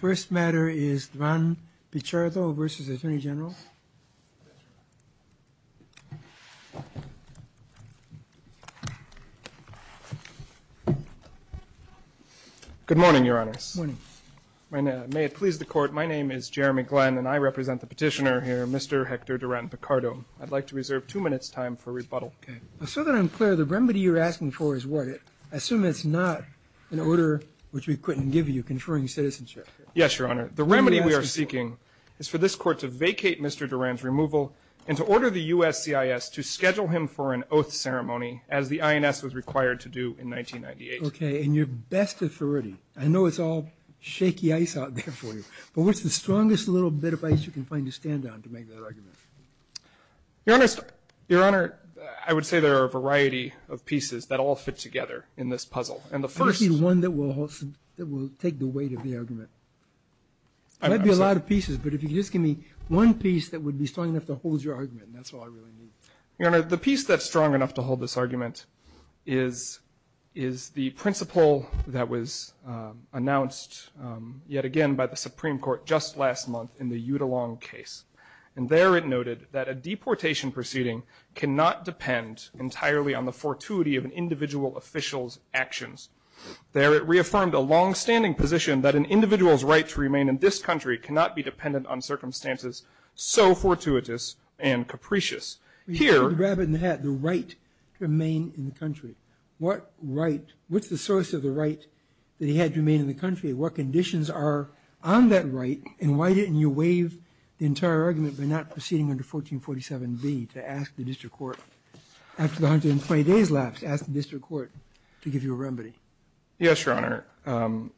First matter is Duran Pichardov versus Attorney General. Good morning, Your Honor. Good morning. May it please the Court, my name is Jeremy Glenn, and I represent the petitioner here, Mr. Hector Duran Pichardov. I'd like to reserve two minutes' time for rebuttal. Okay. So that I'm clear, the remedy you're asking for is what? I assume it's not an order which we couldn't give you conferring citizenship. Yes, Your Honor. The remedy we are seeking is for this Court to vacate Mr. Duran's removal and to order the USCIS to schedule him for an oath ceremony as the INS was required to do in 1998. Okay. And your best authority, I know it's all shaky ice out there for you, but what's the strongest little bit of ice you can find to stand on to make that argument? Your Honor, I would say there are a variety of pieces that all fit together in this puzzle. And the first is one that will take the weight of the argument. There might be a lot of pieces, but if you could just give me one piece that would be strong enough to hold your argument, that's all I really need. Your Honor, the piece that's strong enough to hold this argument is the principle that was announced yet again by the Supreme Court just last month in the Udalong case. And there it noted that a deportation proceeding cannot depend entirely on the fortuity of an individual official's actions. There it reaffirmed a longstanding position that an individual's right to remain in this country cannot be dependent on circumstances so fortuitous and capricious. Here... You can grab it in the hat, the right to remain in the country. What right, what's the source of the right that he had to remain in the country? What conditions are on that right, and why didn't you waive the entire argument by not proceeding under 1447B to ask the district court after the 120 days lapse, ask the district court to give you a remedy? Yes, Your Honor.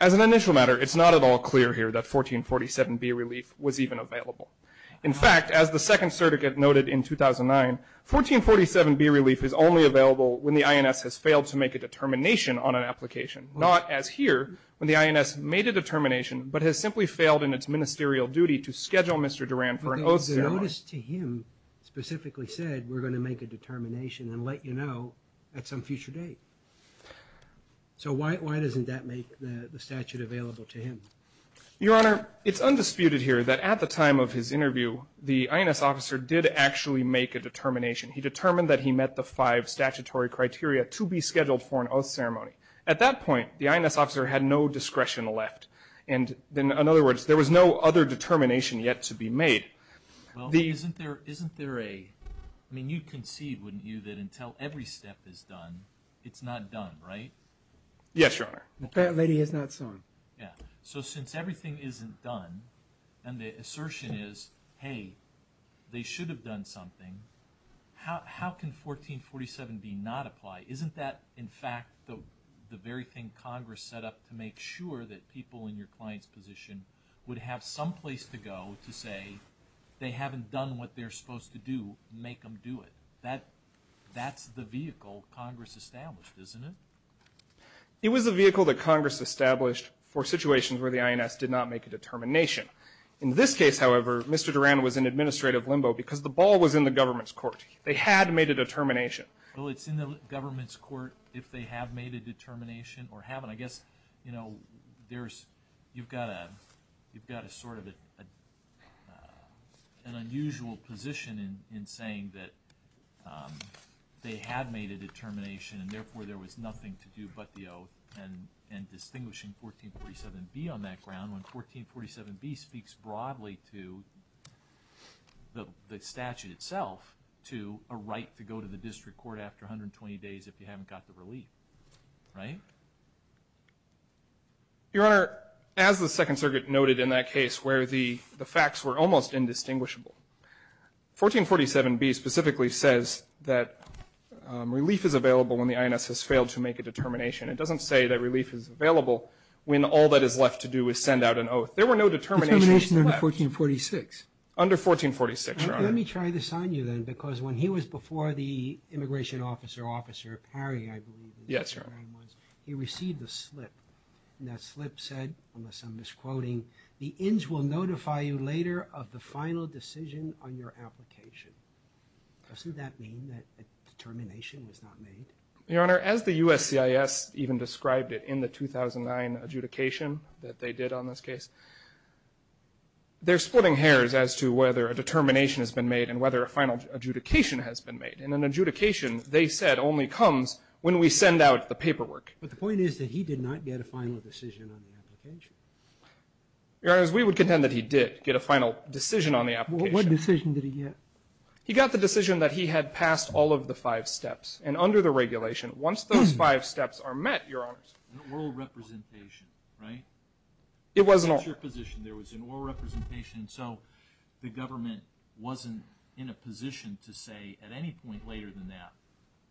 As an initial matter, it's not at all clear here that 1447B relief was even available. In fact, as the second certicate noted in 2009, 1447B relief is only available when the INS has failed to make a determination on an application, not as here when the INS made a determination but has simply failed in its ministerial duty to schedule Mr. Durand for an oath ceremony. But the notice to him specifically said we're going to make a determination and let you know at some future date. So why doesn't that make the statute available to him? Your Honor, it's undisputed here that at the time of his interview, the INS officer did actually make a determination. He determined that he met the five statutory criteria to be scheduled for an oath ceremony. At that point, the INS officer had no discretion left. In other words, there was no other determination yet to be made. Well, isn't there a – I mean, you'd concede, wouldn't you, that until every step is done, it's not done, right? Yes, Your Honor. Apparently he has not sworn. So since everything isn't done and the assertion is, hey, they should have done something, how can 1447B not apply? Isn't that, in fact, the very thing Congress set up to make sure that people in your client's position would have someplace to go to say they haven't done what they're supposed to do and make them do it? That's the vehicle Congress established, isn't it? It was the vehicle that Congress established for situations where the INS did not make a determination. In this case, however, Mr. Duran was in administrative limbo because the ball was in the government's court. They had made a determination. Well, it's in the government's court if they have made a determination or haven't. I guess, you know, there's – you've got a sort of an unusual position in saying that they have made a determination and, therefore, there was nothing to do but the oath and distinguishing 1447B on that ground when 1447B speaks broadly to the statute itself to a right to go to the district court after 120 days if you haven't got the relief, right? Your Honor, as the Second Circuit noted in that case where the facts were almost indistinguishable, 1447B specifically says that relief is available when the INS has failed to make a determination. It doesn't say that relief is available when all that is left to do is send out an oath. There were no determinations left. Determination under 1446. Under 1446, Your Honor. Let me try this on you, then, because when he was before the immigration officer, Officer Perry, I believe his name was, he received a slip, and that slip said, unless I'm misquoting, the INS will notify you later of the final decision on your application. Doesn't that mean that a determination was not made? Your Honor, as the USCIS even described it in the 2009 adjudication that they did on this case, they're splitting hairs as to whether a determination has been made and whether a final adjudication has been made. And an adjudication, they said, only comes when we send out the paperwork. But the point is that he did not get a final decision on the application. Your Honor, we would contend that he did get a final decision on the application. What decision did he get? He got the decision that he had passed all of the five steps, and under the regulation, once those five steps are met, Your Honor. An oral representation, right? It was an oral. That's your position. There was an oral representation, so the government wasn't in a position to say at any point later than that,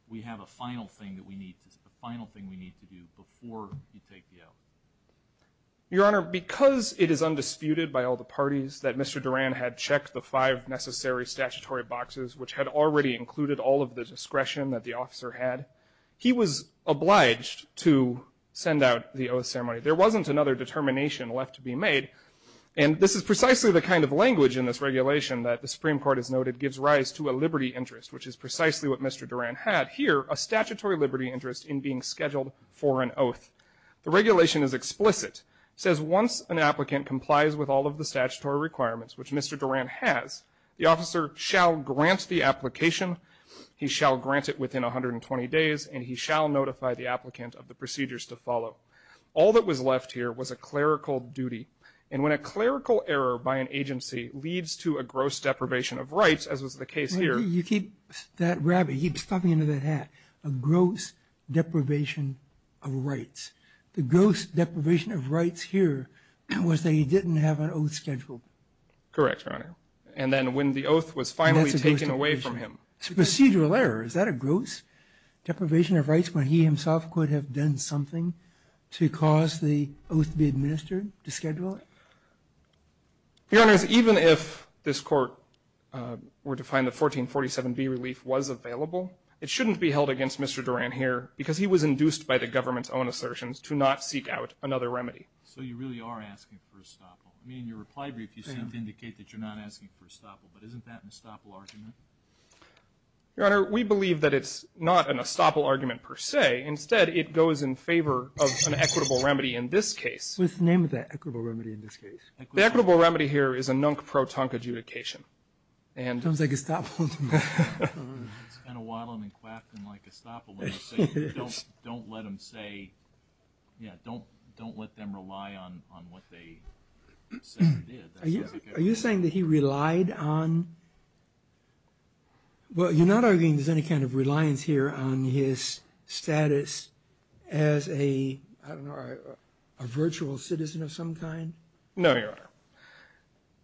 we have a final thing that we need to, a final thing we need to do before you take the oath. Your Honor, because it is undisputed by all the parties that Mr. Duran had checked the five necessary statutory boxes, which had already included all of the discretion that the officer had, he was obliged to send out the oath ceremony. There wasn't another determination left to be made, and this is precisely the kind of language in this regulation that the Supreme Court has noted gives rise to a liberty interest, which is precisely what Mr. Duran had here, a statutory liberty interest in being scheduled for an oath. The regulation is explicit. It says once an applicant complies with all of the statutory requirements, which Mr. Duran has, the officer shall grant the application, he shall grant it within 120 days, and he shall notify the applicant of the procedures to follow. All that was left here was a clerical duty, and when a clerical error by an agency leads to a gross deprivation of rights, as was the case here. You keep that rabbit, you keep stuffing it into that hat, a gross deprivation of rights. The gross deprivation of rights here was that he didn't have an oath scheduled. Correct, Your Honor. And then when the oath was finally taken away from him. It's a procedural error. Is that a gross deprivation of rights when he himself could have done something to cause the oath to be administered, to schedule it? Your Honors, even if this Court were to find the 1447B relief was available, it shouldn't be held against Mr. Duran here because he was induced by the government's own assertions to not seek out another remedy. So you really are asking for a stop. I mean, in your reply brief you seem to indicate that you're not asking for a stop. But isn't that an estoppel argument? Your Honor, we believe that it's not an estoppel argument per se. Instead, it goes in favor of an equitable remedy in this case. What's the name of that equitable remedy in this case? The equitable remedy here is a nunk-pro-tunk adjudication. Sounds like estoppel to me. It's been a while since I've been clapped in like estoppel. Don't let them say, yeah, don't let them rely on what they said and did. Are you saying that he relied on, well, you're not arguing there's any kind of reliance here on his status as a, I don't know, a virtual citizen of some kind? No, Your Honor.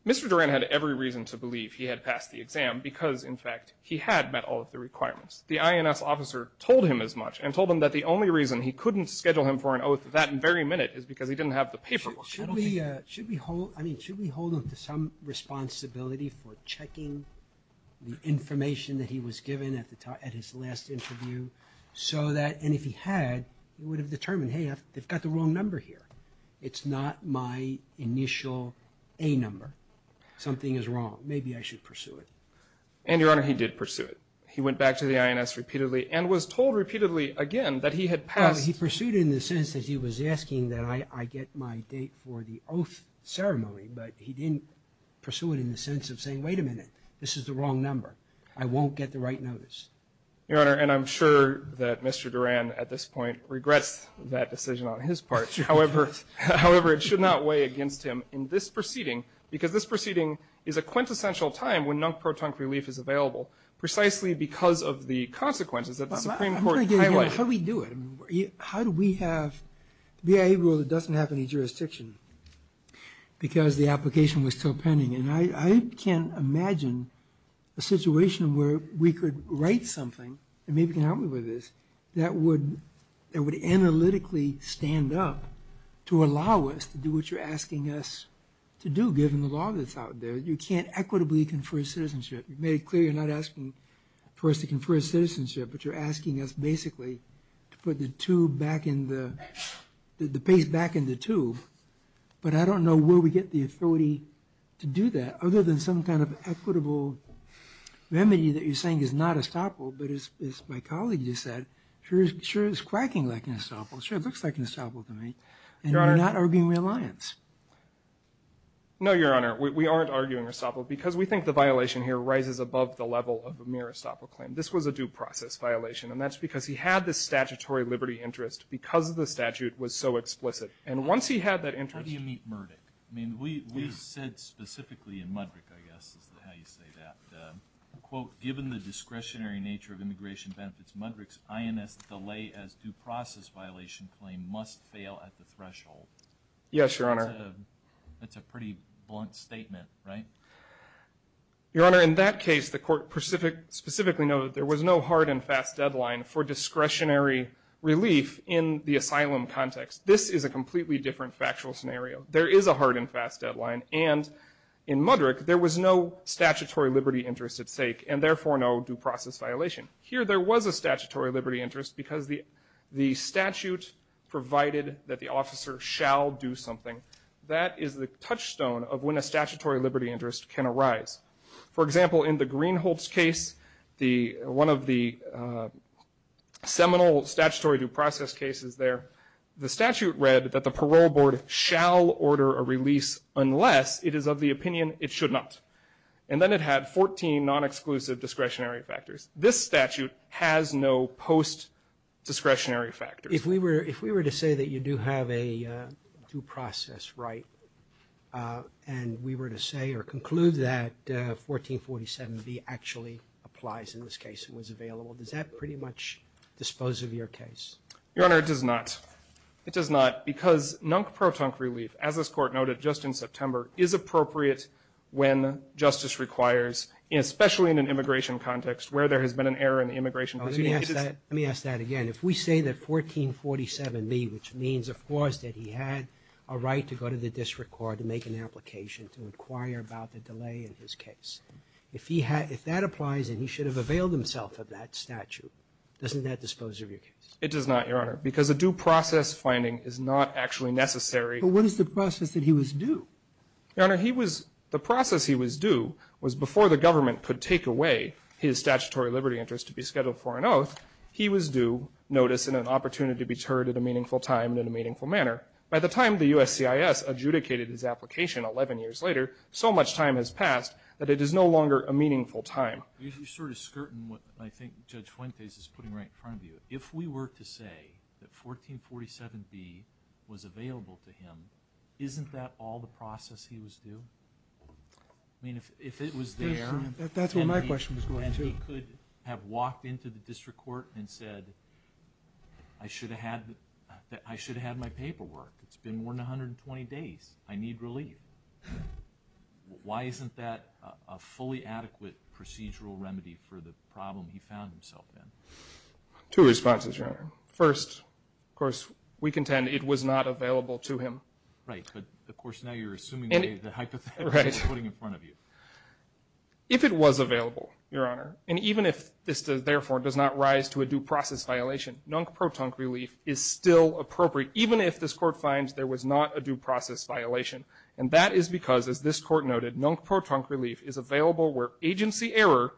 Mr. Duran had every reason to believe he had passed the exam because, in fact, he had met all of the requirements. The INS officer told him as much and told him that the only reason he couldn't schedule him for an oath that very minute is because he didn't have the paperwork. Should we hold him to some responsibility for checking the information that he was given at his last interview so that, and if he had, he would have determined, hey, they've got the wrong number here. It's not my initial A number. Something is wrong. Maybe I should pursue it. And, Your Honor, he did pursue it. He went back to the INS repeatedly and was told repeatedly again that he had passed. Well, he pursued it in the sense that he was asking that I get my date for the oath ceremony, but he didn't pursue it in the sense of saying, wait a minute, this is the wrong number. I won't get the right notice. Your Honor, and I'm sure that Mr. Duran at this point regrets that decision on his part. However, it should not weigh against him in this proceeding because this proceeding is a because of the consequences that the Supreme Court highlighted. How do we do it? How do we have the BIA rule that doesn't have any jurisdiction because the application was still pending? And I can't imagine a situation where we could write something that maybe can help me with this that would analytically stand up to allow us to do what you're asking us to do, given the law that's out there. You can't equitably confer citizenship. You've made it clear you're not asking for us to confer citizenship, but you're asking us basically to put the paste back in the tube. But I don't know where we get the authority to do that, other than some kind of equitable remedy that you're saying is not estoppel, but as my colleague just said, sure, it's quacking like an estoppel. Sure, it looks like an estoppel to me. And you're not arguing reliance. No, Your Honor, we aren't arguing estoppel because we think the violation here rises above the level of a mere estoppel claim. This was a due process violation, and that's because he had this statutory liberty interest because the statute was so explicit. And once he had that interest ñ How do you meet Murdoch? I mean, we said specifically in Mudrick, I guess is how you say that, quote, given the discretionary nature of immigration benefits, Mudrick's INS delay as due process violation claim must fail at the threshold. Yes, Your Honor. It's a pretty blunt statement, right? Your Honor, in that case, the court specifically noted there was no hard and fast deadline for discretionary relief in the asylum context. This is a completely different factual scenario. There is a hard and fast deadline, and in Mudrick there was no statutory liberty interest at stake and therefore no due process violation. Here there was a statutory liberty interest because the statute provided that the officer shall do something. That is the touchstone of when a statutory liberty interest can arise. For example, in the Greenholts case, one of the seminal statutory due process cases there, the statute read that the parole board shall order a release unless it is of the opinion it should not. And then it had 14 non-exclusive discretionary factors. This statute has no post-discretionary factors. If we were to say that you do have a due process right and we were to say or conclude that 1447B actually applies in this case and was available, does that pretty much dispose of your case? Your Honor, it does not. It does not because non-proton relief, as this court noted just in September, is appropriate when justice requires, especially in an immigration context where there has been an error in the immigration proceedings. Let me ask that again. If we say that 1447B, which means, of course, that he had a right to go to the district court to make an application to inquire about the delay in his case, if that applies and he should have availed himself of that statute, doesn't that dispose of your case? It does not, Your Honor, because a due process finding is not actually necessary. But what is the process that he was due? Your Honor, he was the process he was due was before the government could take away his statutory liberty interest to be scheduled for an oath, he was due notice and an opportunity to be heard at a meaningful time and in a meaningful manner. By the time the USCIS adjudicated his application 11 years later, so much time has passed that it is no longer a meaningful time. You sort of skirt in what I think Judge Fuentes is putting right in front of you. If we were to say that 1447B was available to him, isn't that all the process he was due? I mean, if it was there and he could have walked into the district court and said, I should have had my paperwork. It's been more than 120 days. I need relief. Why isn't that a fully adequate procedural remedy for the problem he found himself in? Two responses, Your Honor. First, of course, we contend it was not available to him. Right. But, of course, now you're assuming the hypothetical he's putting in front of you. If it was available, Your Honor, and even if this, therefore, does not rise to a due process violation, non-protonc relief is still appropriate, even if this court finds there was not a due process violation. And that is because, as this court noted, non-protonc relief is available where agency error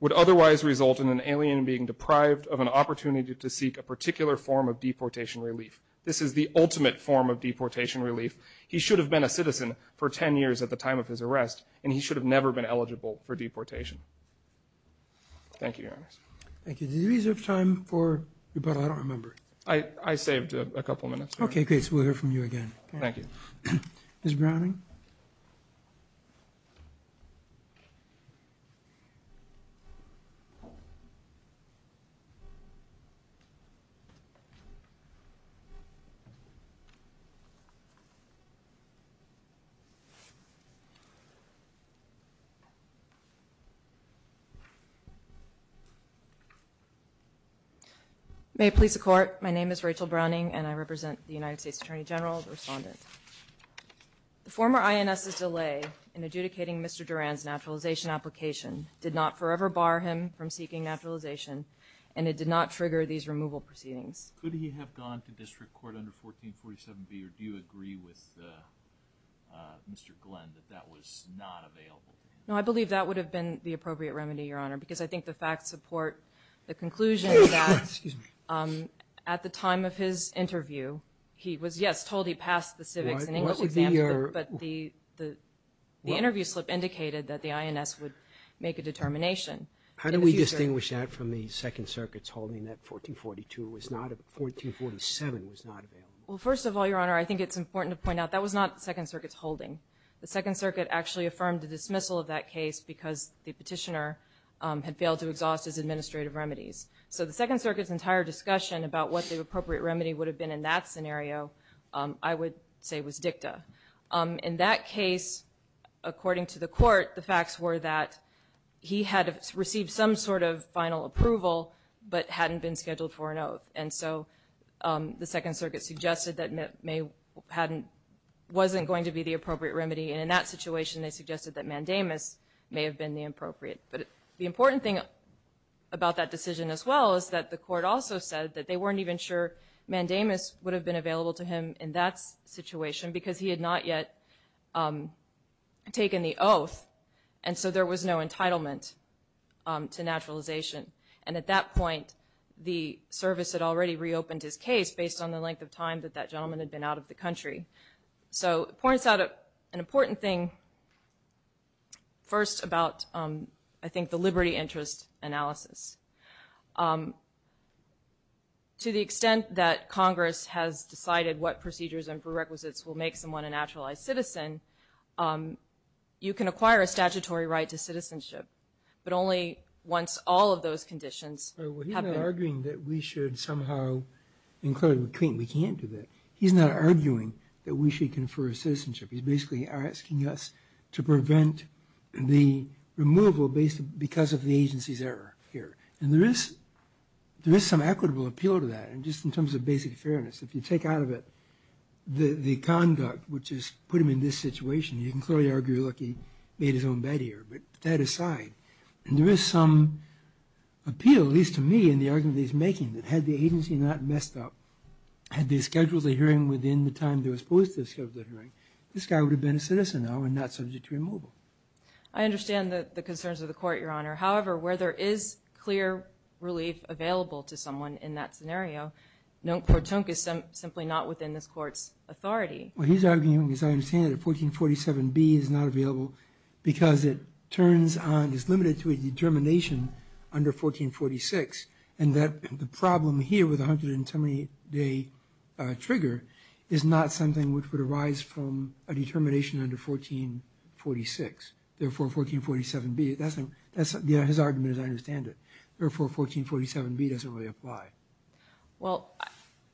would otherwise result in an alien being deprived of an opportunity to seek a particular form of deportation relief. This is the ultimate form of deportation relief. He should have been a citizen for 10 years at the time of his arrest, and he should have never been eligible for deportation. Thank you, Your Honor. Thank you. Did you reserve time for rebuttal? I don't remember. I saved a couple minutes. Okay, great. So we'll hear from you again. Thank you. Ms. Browning? May it please the Court, my name is Rachel Browning, and I represent the United States Attorney General, the Respondent. The former INS's delay in adjudicating Mr. Durand's naturalization application did not forever bar him from seeking naturalization, and it did not trigger these removal proceedings. Could he have gone to district court under 1447B, or do you agree with Mr. Glenn that that was not available? No, I believe that would have been the appropriate remedy, Your Honor, because I think the facts support the conclusion that at the time of his interview, he was, yes, told he passed the civics and English exam, but the interview slip indicated that the INS would make a determination. How do we distinguish that from the Second Circuit's holding that 1442 was not available, 1447 was not available? Well, first of all, Your Honor, I think it's important to point out that was not the Second Circuit's holding. The Second Circuit actually affirmed the dismissal of that case because the petitioner had failed to exhaust his administrative remedies. So the Second Circuit's entire discussion about what the appropriate remedy would have been in that scenario I would say was dicta. In that case, according to the court, the facts were that he had received some sort of final approval but hadn't been scheduled for an oath. And so the Second Circuit suggested that it wasn't going to be the appropriate remedy, and in that situation they suggested that mandamus may have been the appropriate. But the important thing about that decision as well is that the court also said that they weren't even sure mandamus would have been available to him in that situation because he had not yet taken the oath, and so there was no entitlement to naturalization. And at that point the service had already reopened his case based on the length of time that that gentleman had been out of the country. So it points out an important thing first about I think the liberty interest analysis. To the extent that Congress has decided what procedures and prerequisites will make someone a naturalized citizen, you can acquire a statutory right to citizenship, but only once all of those conditions have been... Well, he's not arguing that we should somehow include... We can't do that. He's not arguing that we should confer a citizenship. He's basically asking us to prevent the removal because of the agency's error here. And there is some equitable appeal to that, just in terms of basic fairness. If you take out of it the conduct which has put him in this situation, you can clearly argue, look, he made his own bed here. But that aside, there is some appeal, at least to me, in the argument he's making, that had the agency not messed up, had they scheduled the hearing within the time they were supposed to schedule the hearing, this guy would have been a citizen now and not subject to removal. I understand the concerns of the Court, Your Honor. However, where there is clear relief available to someone in that scenario, no courtunk is simply not within this Court's authority. Well, he's arguing, as I understand it, that 1447B is not available because it turns on, is limited to a determination under 1446, and that the problem here with the 110-day trigger is not something which would arise from a determination under 1446. Therefore, 1447B, that's his argument, as I understand it. Therefore, 1447B doesn't really apply. Well,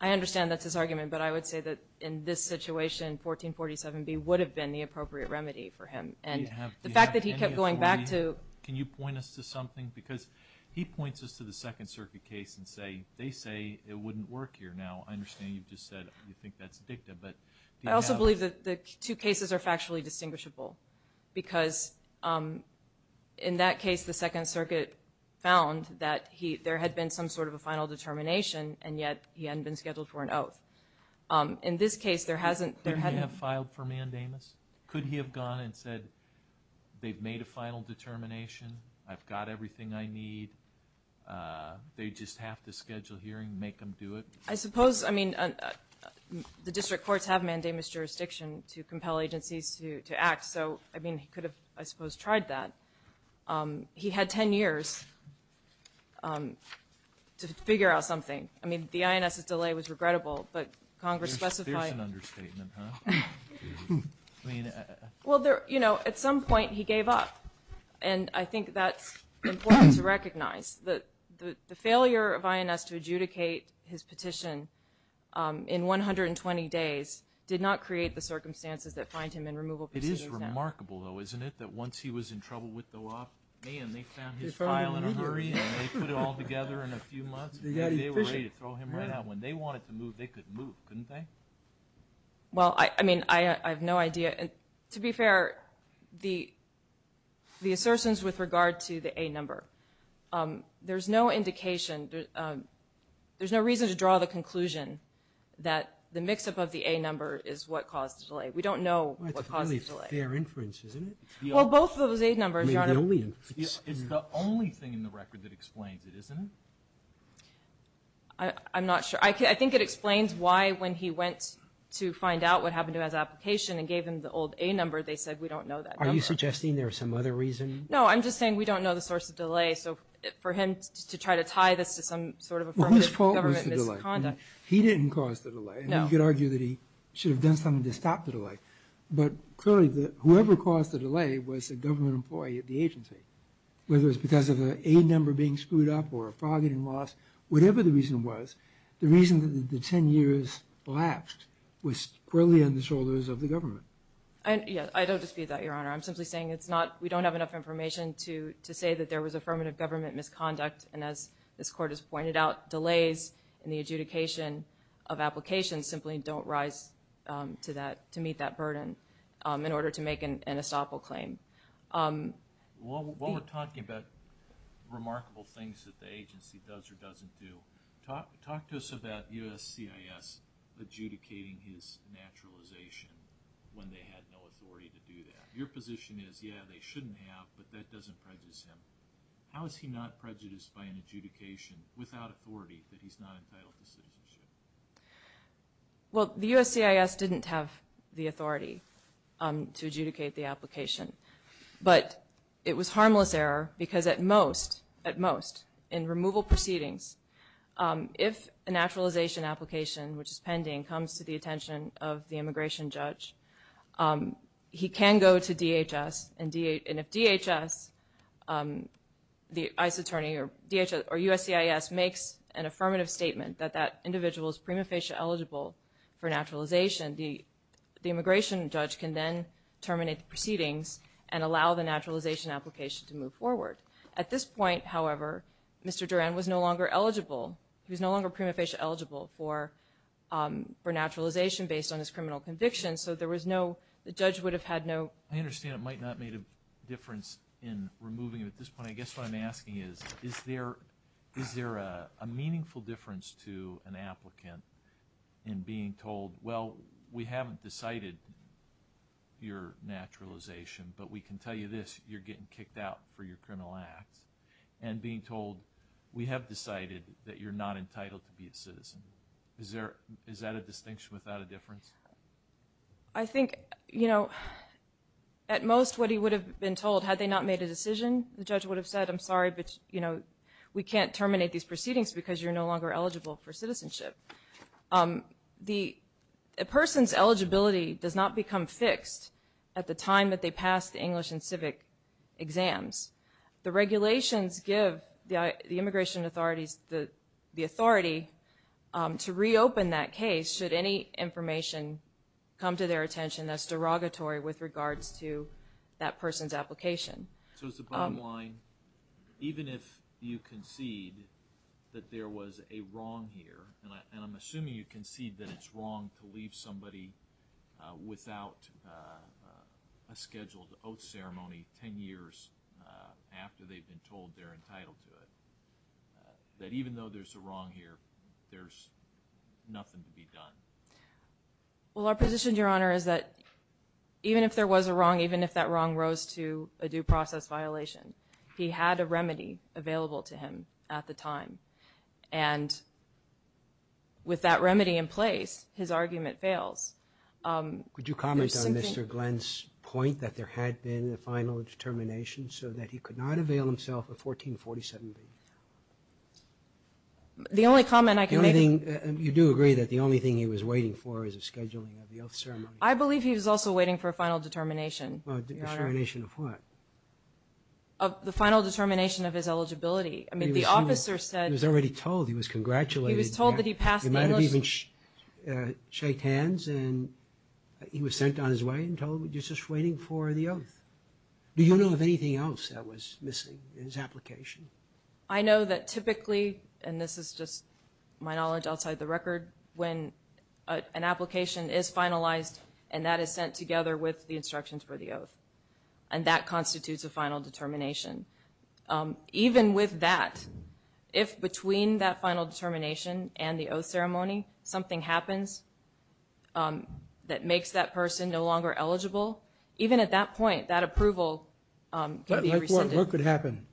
I understand that's his argument, but I would say that in this situation, 1447B would have been the appropriate remedy for him. And the fact that he kept going back to – Can you point us to something? Because he points us to the Second Circuit case and say, they say it wouldn't work here now. I understand you've just said you think that's dicta, but do you have – I also believe that the two cases are factually distinguishable because in that case, the Second Circuit found that there had been some sort of a final determination, and yet he hadn't been scheduled for an oath. In this case, there hasn't – Didn't he have filed for mandamus? Could he have gone and said, they've made a final determination, I've got everything I need, they just have to schedule hearing, make them do it? I suppose – I mean, the district courts have mandamus jurisdiction to compel agencies to act. So, I mean, he could have, I suppose, tried that. He had 10 years to figure out something. I mean, the INS's delay was regrettable, but Congress specified – That's an understatement, huh? Well, you know, at some point he gave up, and I think that's important to recognize, that the failure of INS to adjudicate his petition in 120 days did not create the circumstances that find him in removal proceedings now. It is remarkable, though, isn't it, that once he was in trouble with the law, and they found his file in a hurry, and they put it all together in a few months, they were ready to throw him right out. When they wanted to move, they could move, couldn't they? Well, I mean, I have no idea. To be fair, the assertions with regard to the A number, there's no indication – there's no reason to draw the conclusion that the mix-up of the A number is what caused the delay. We don't know what caused the delay. That's a really fair inference, isn't it? Well, both of those A numbers, Your Honor – It's the only thing in the record that explains it, isn't it? I'm not sure. I think it explains why when he went to find out what happened to his application and gave him the old A number, they said, we don't know that number. Are you suggesting there was some other reason? No, I'm just saying we don't know the source of delay. So for him to try to tie this to some sort of affirmative government misconduct – Well, his fault was the delay. He didn't cause the delay. No. You could argue that he should have done something to stop the delay. But clearly, whoever caused the delay was a government employee at the agency. Whether it was because of an A number being screwed up or a fraudulent loss, whatever the reason was, the reason that the 10 years lapsed was clearly on the shoulders of the government. I don't dispute that, Your Honor. I'm simply saying it's not – we don't have enough information to say that there was affirmative government misconduct. And as this Court has pointed out, delays in the adjudication of applications simply don't rise to meet that burden in order to make an estoppel claim. While we're talking about remarkable things that the agency does or doesn't do, talk to us about USCIS adjudicating his naturalization when they had no authority to do that. Your position is, yeah, they shouldn't have, but that doesn't prejudice him. How is he not prejudiced by an adjudication without authority that he's not entitled to citizenship? Well, the USCIS didn't have the authority to adjudicate the application. But it was harmless error because at most, at most, in removal proceedings, if a naturalization application, which is pending, comes to the attention of the immigration judge, he can go to DHS. And if DHS, the ICE attorney, or USCIS makes an affirmative statement that that individual is prima facie eligible for naturalization, the immigration judge can then terminate the proceedings and allow the naturalization application to move forward. At this point, however, Mr. Duran was no longer eligible. He was no longer prima facie eligible for naturalization based on his criminal conviction. So there was no – the judge would have had no – I understand it might not have made a difference in removing him at this point. I guess what I'm asking is, is there a meaningful difference to an applicant in being told, well, we haven't decided your naturalization, but we can tell you this, you're getting kicked out for your criminal act, and being told, we have decided that you're not entitled to be a citizen. Is there – is that a distinction without a difference? I think, you know, at most what he would have been told, had they not made a decision, the judge would have said, I'm sorry, but, you know, we can't terminate these proceedings because you're no longer eligible for citizenship. The person's eligibility does not become fixed at the time that they pass the English and civic exams. The regulations give the immigration authorities the authority to reopen that case should any information come to their attention that's derogatory with regards to that person's application. So is the bottom line, even if you concede that there was a wrong here, and I'm assuming you concede that it's wrong to leave somebody without a scheduled oath ceremony 10 years after they've been told they're entitled to it, that even though there's a wrong here, there's nothing to be done? Well, our position, Your Honor, is that even if there was a wrong, even if that wrong rose to a due process violation, he had a remedy available to him at the time. And with that remedy in place, his argument fails. Could you comment on Mr. Glenn's point that there had been a final determination so that he could not avail himself of 1447B? The only comment I can make. You do agree that the only thing he was waiting for is a scheduling of the oath ceremony? I believe he was also waiting for a final determination. A determination of what? The final determination of his eligibility. I mean, the officer said he was told that he passed the English. He was already told, he was congratulated. He might have even shaked hands and he was sent on his way and told, you're just waiting for the oath. Do you know of anything else that was missing in his application? I know that typically, and this is just my knowledge outside the record, when an application is finalized and that is sent together with the instructions for the oath and that constitutes a final determination. Even with that, if between that final determination and the oath ceremony, something happens that makes that person no longer eligible, even at that point, that approval could be rescinded. What could happen?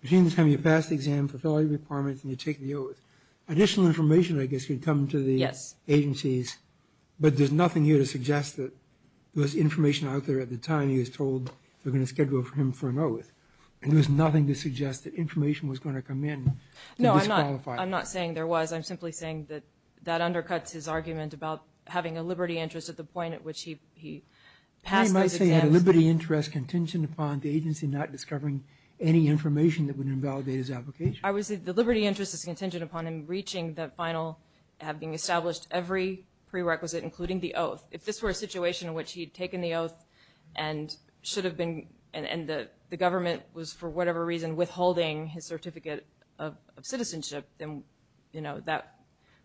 Between the time you pass the exam, fulfill all your requirements, and you take the oath, additional information I guess could come to the agencies, but there's nothing here to suggest that there was information out there at the time he was told they were going to schedule him for an oath. And there was nothing to suggest that information was going to come in and disqualify him. No, I'm not saying there was. I'm simply saying that that undercuts his argument about having a liberty interest at the point at which he passed those exams. You might say he had a liberty interest contingent upon the agency not discovering any information that would invalidate his application. I would say the liberty interest is contingent upon him reaching that final and having established every prerequisite, including the oath. If this were a situation in which he had taken the oath and should have been and the government was, for whatever reason, withholding his certificate of citizenship, then that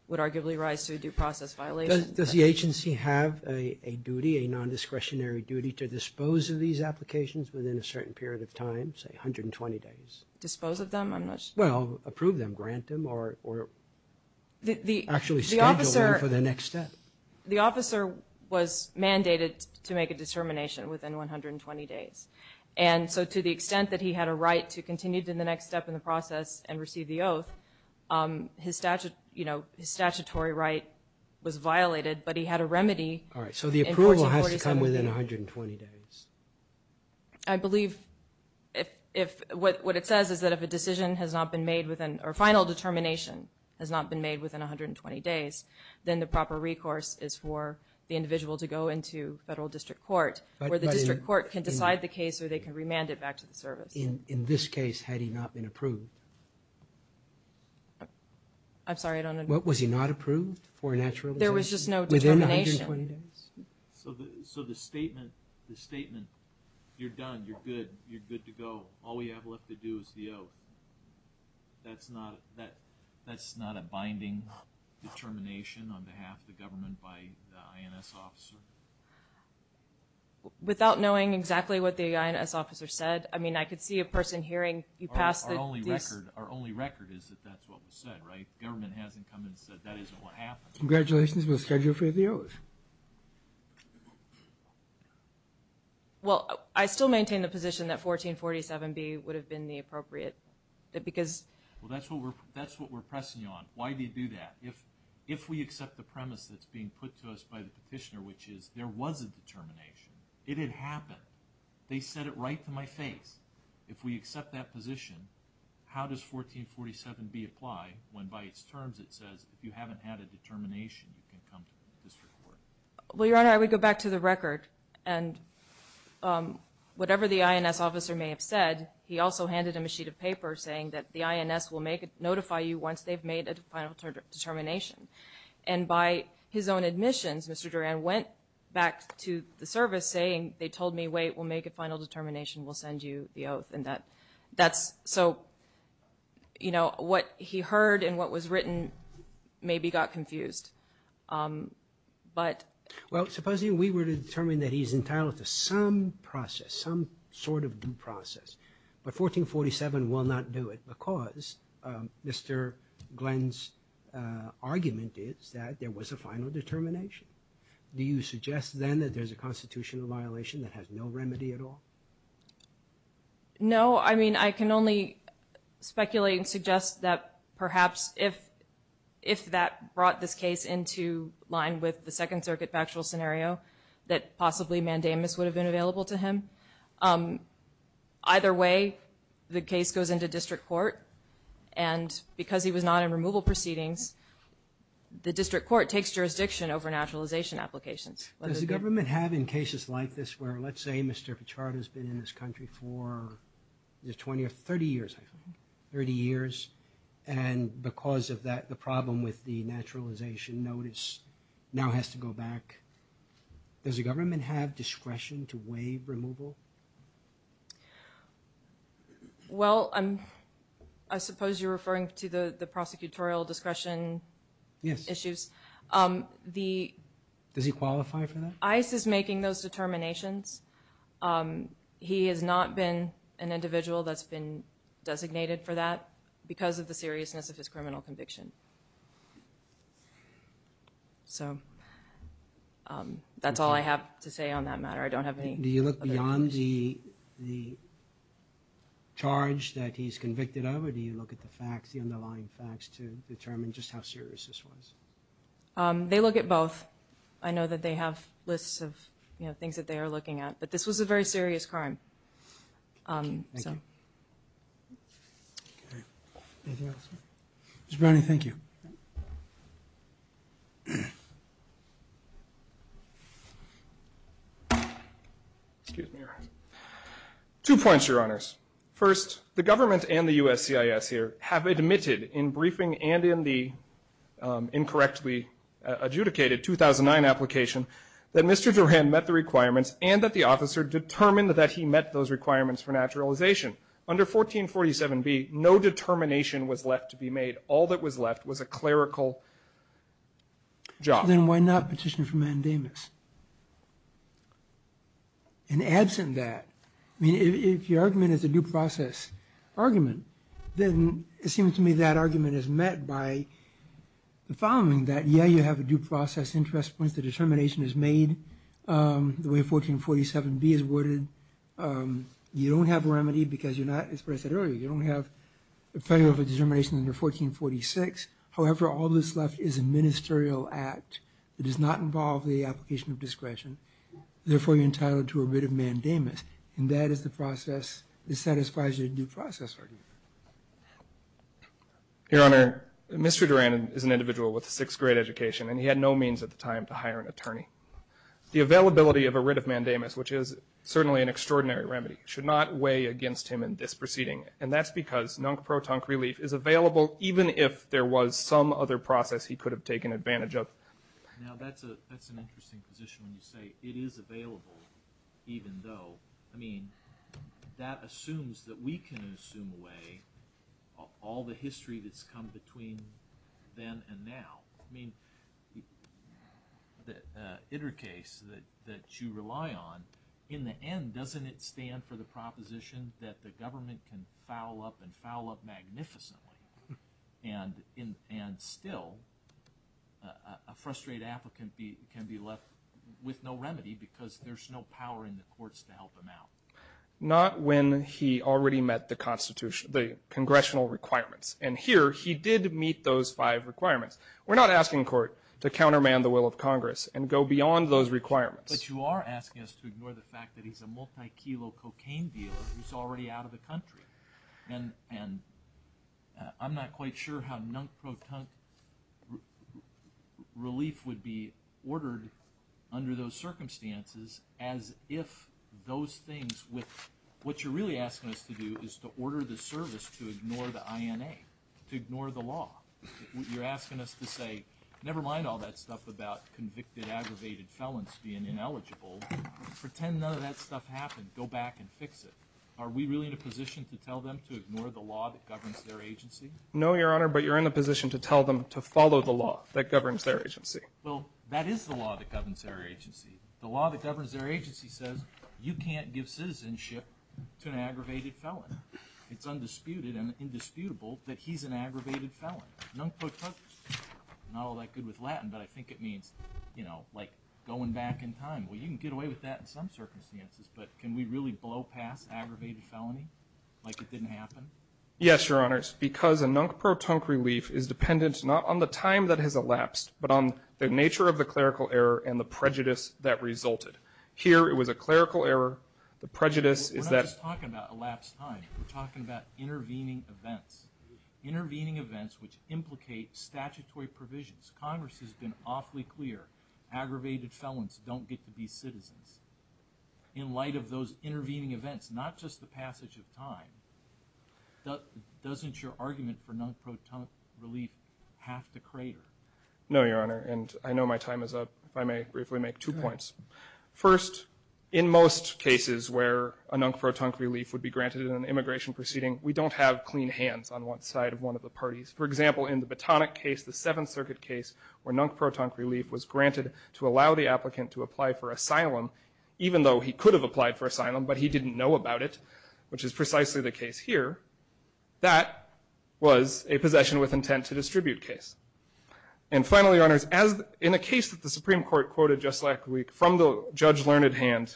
would arguably rise to a due process violation. Does the agency have a duty, a nondiscretionary duty, to dispose of these applications within a certain period of time, say 120 days? Dispose of them? I'm not sure. Well, approve them, grant them, or actually schedule them for the next step. The officer was mandated to make a determination within 120 days. And so to the extent that he had a right to continue to the next step in the process and receive the oath, his statutory right was violated, but he had a remedy in 1447. All right, so the approval has to come within 120 days. I believe what it says is that if a decision has not been made within or final determination has not been made within 120 days, then the proper recourse is for the individual to go into federal district court where the district court can decide the case or they can remand it back to the service. In this case, had he not been approved? I'm sorry, I don't understand. Was he not approved for a naturalization? There was just no determination. Within 120 days? So the statement, the statement, you're done, you're good, you're good to go, all we have left to do is the oath, that's not a binding determination on behalf of the government by the INS officer? Without knowing exactly what the INS officer said. I mean, I could see a person hearing you pass the... Our only record is that that's what was said, right? Government hasn't come and said that isn't what happened. Congratulations, we'll schedule for the oath. Well, I still maintain the position that 1447B would have been the appropriate because... Well, that's what we're pressing you on. Why do you do that? If we accept the premise that's being put to us by the petitioner, which is there was a determination, it had happened. They said it right to my face. If we accept that position, how does 1447B apply when by its terms it says if you haven't had a determination, you can come to the district court? Well, Your Honor, I would go back to the record. And whatever the INS officer may have said, he also handed him a sheet of paper saying that the INS will notify you once they've made a final determination. And by his own admissions, Mr. Duran went back to the service saying they told me, wait, we'll make a final determination, we'll send you the oath. And that's so, you know, what he heard and what was written maybe got confused. But... Well, supposing we were to determine that he's entitled to some process, some sort of due process. But 1447 will not do it because Mr. Glenn's argument is that there was a final determination. Do you suggest then that there's a constitutional violation that has no remedy at all? No. I mean, I can only speculate and suggest that perhaps if that brought this case into line with the Second Circuit factual scenario, that possibly mandamus would have been available to him. Either way, the case goes into district court. And because he was not in removal proceedings, the district court takes jurisdiction over naturalization applications. Does the government have in cases like this where, let's say Mr. Pichard has been in this country for 20 or 30 years, I think, 30 years, and because of that, the problem with the naturalization notice now has to go back. Does the government have discretion to waive removal? Well, I suppose you're referring to the prosecutorial discretion issues. Yes. Does he qualify for that? ICE is making those determinations. He has not been an individual that's been designated for that because of the seriousness of his criminal conviction. So that's all I have to say on that matter. I don't have any other questions. Do you look beyond the charge that he's convicted of, or do you look at the facts, the underlying facts, to determine just how serious this was? They look at both. I know that they have lists of things that they are looking at, but this was a very serious crime. Okay. Thank you. Okay. Anything else? Mr. Brownlee, thank you. Two points, Your Honors. First, the government and the USCIS here have admitted in briefing and in the incorrectly adjudicated 2009 application that Mr. Duran met the requirements and that the officer determined that he met those requirements for naturalization. Under 1447B, no determination was left to be made. All that was left was a clerical job. Then why not petition for mandamus? And absent that, I mean, if your argument is a due process argument, then it seems to me that argument is met by the following, that, yeah, you have a due process interest once the determination is made, the way 1447B is worded. You don't have a remedy because you're not, as I said earlier, you don't have a federal determination under 1446. However, all that's left is a ministerial act that does not involve the application of discretion. Therefore, you're entitled to a writ of mandamus, and that is the process that satisfies your due process argument. Your Honor, Mr. Duran is an individual with a sixth-grade education, and he had no means at the time to hire an attorney. The availability of a writ of mandamus, which is certainly an extraordinary remedy, should not weigh against him in this proceeding, and that's because non-protonc relief is available even if there was some other process he could have taken advantage of. Now, that's an interesting position when you say, it is available even though, I mean, that assumes that we can assume away all the history that's come between then and now. I mean, the iter case that you rely on, in the end, doesn't it stand for the proposition that the government can foul up and foul up magnificently? And still, a frustrated applicant can be left with no remedy because there's no power in the courts to help him out. Not when he already met the congressional requirements. And here, he did meet those five requirements. We're not asking court to counterman the will of Congress and go beyond those requirements. But you are asking us to ignore the fact that he's a multi-kilo cocaine dealer who's already out of the country. And I'm not quite sure how non-proton relief would be ordered under those circumstances as if those things with – what you're really asking us to do is to order the service to ignore the INA, to ignore the law. You're asking us to say, never mind all that stuff about convicted, aggravated felons being ineligible. Pretend none of that stuff happened. Go back and fix it. Are we really in a position to tell them to ignore the law that governs their agency? No, Your Honor, but you're in a position to tell them to follow the law that governs their agency. Well, that is the law that governs their agency. The law that governs their agency says you can't give citizenship to an aggravated felon. It's undisputed and indisputable that he's an aggravated felon. Non-proton, not all that good with Latin, but I think it means, you know, like going back in time. Well, you can get away with that in some circumstances, but can we really blow past aggravated felony like it didn't happen? Yes, Your Honors, because a non-proton relief is dependent not on the time that has elapsed, but on the nature of the clerical error and the prejudice that resulted. Here it was a clerical error. The prejudice is that – We're talking about intervening events, intervening events which implicate statutory provisions. Congress has been awfully clear. Aggravated felons don't get to be citizens. In light of those intervening events, not just the passage of time, doesn't your argument for non-proton relief have to crater? No, Your Honor, and I know my time is up. If I may briefly make two points. First, in most cases where a non-proton relief would be granted in an immigration proceeding, we don't have clean hands on one side of one of the parties. For example, in the Batonic case, the Seventh Circuit case, where non-proton relief was granted to allow the applicant to apply for asylum, even though he could have applied for asylum, but he didn't know about it, which is precisely the case here, that was a possession with intent to distribute case. And finally, Your Honors, in a case that the Supreme Court quoted just last week from the judge-learned hand,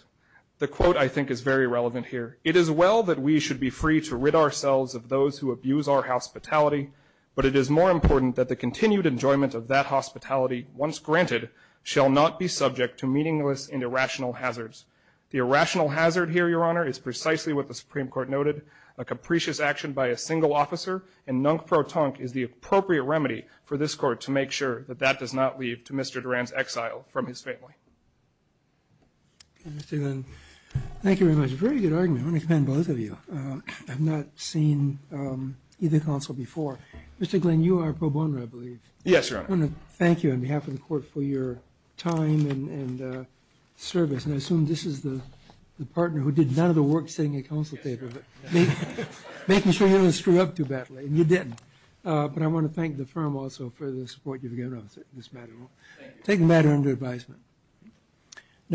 the quote I think is very relevant here. It is well that we should be free to rid ourselves of those who abuse our hospitality, but it is more important that the continued enjoyment of that hospitality, once granted, shall not be subject to meaningless and irrational hazards. The irrational hazard here, Your Honor, is precisely what the Supreme Court noted, a capricious action by a single officer and non-proton is the appropriate remedy for this Court to make sure that that does not leave to Mr. Durand's exile from his family. Mr. Glenn, thank you very much. Very good argument. I want to commend both of you. I've not seen either counsel before. Mr. Glenn, you are pro bono, I believe. Yes, Your Honor. I want to thank you on behalf of the Court for your time and service. And I assume this is the partner who did none of the work sitting at counsel table, making sure he didn't screw up too badly, and you didn't. But I want to thank the firm also for the support you've given us in this matter. Thank you. Take the matter under advisement.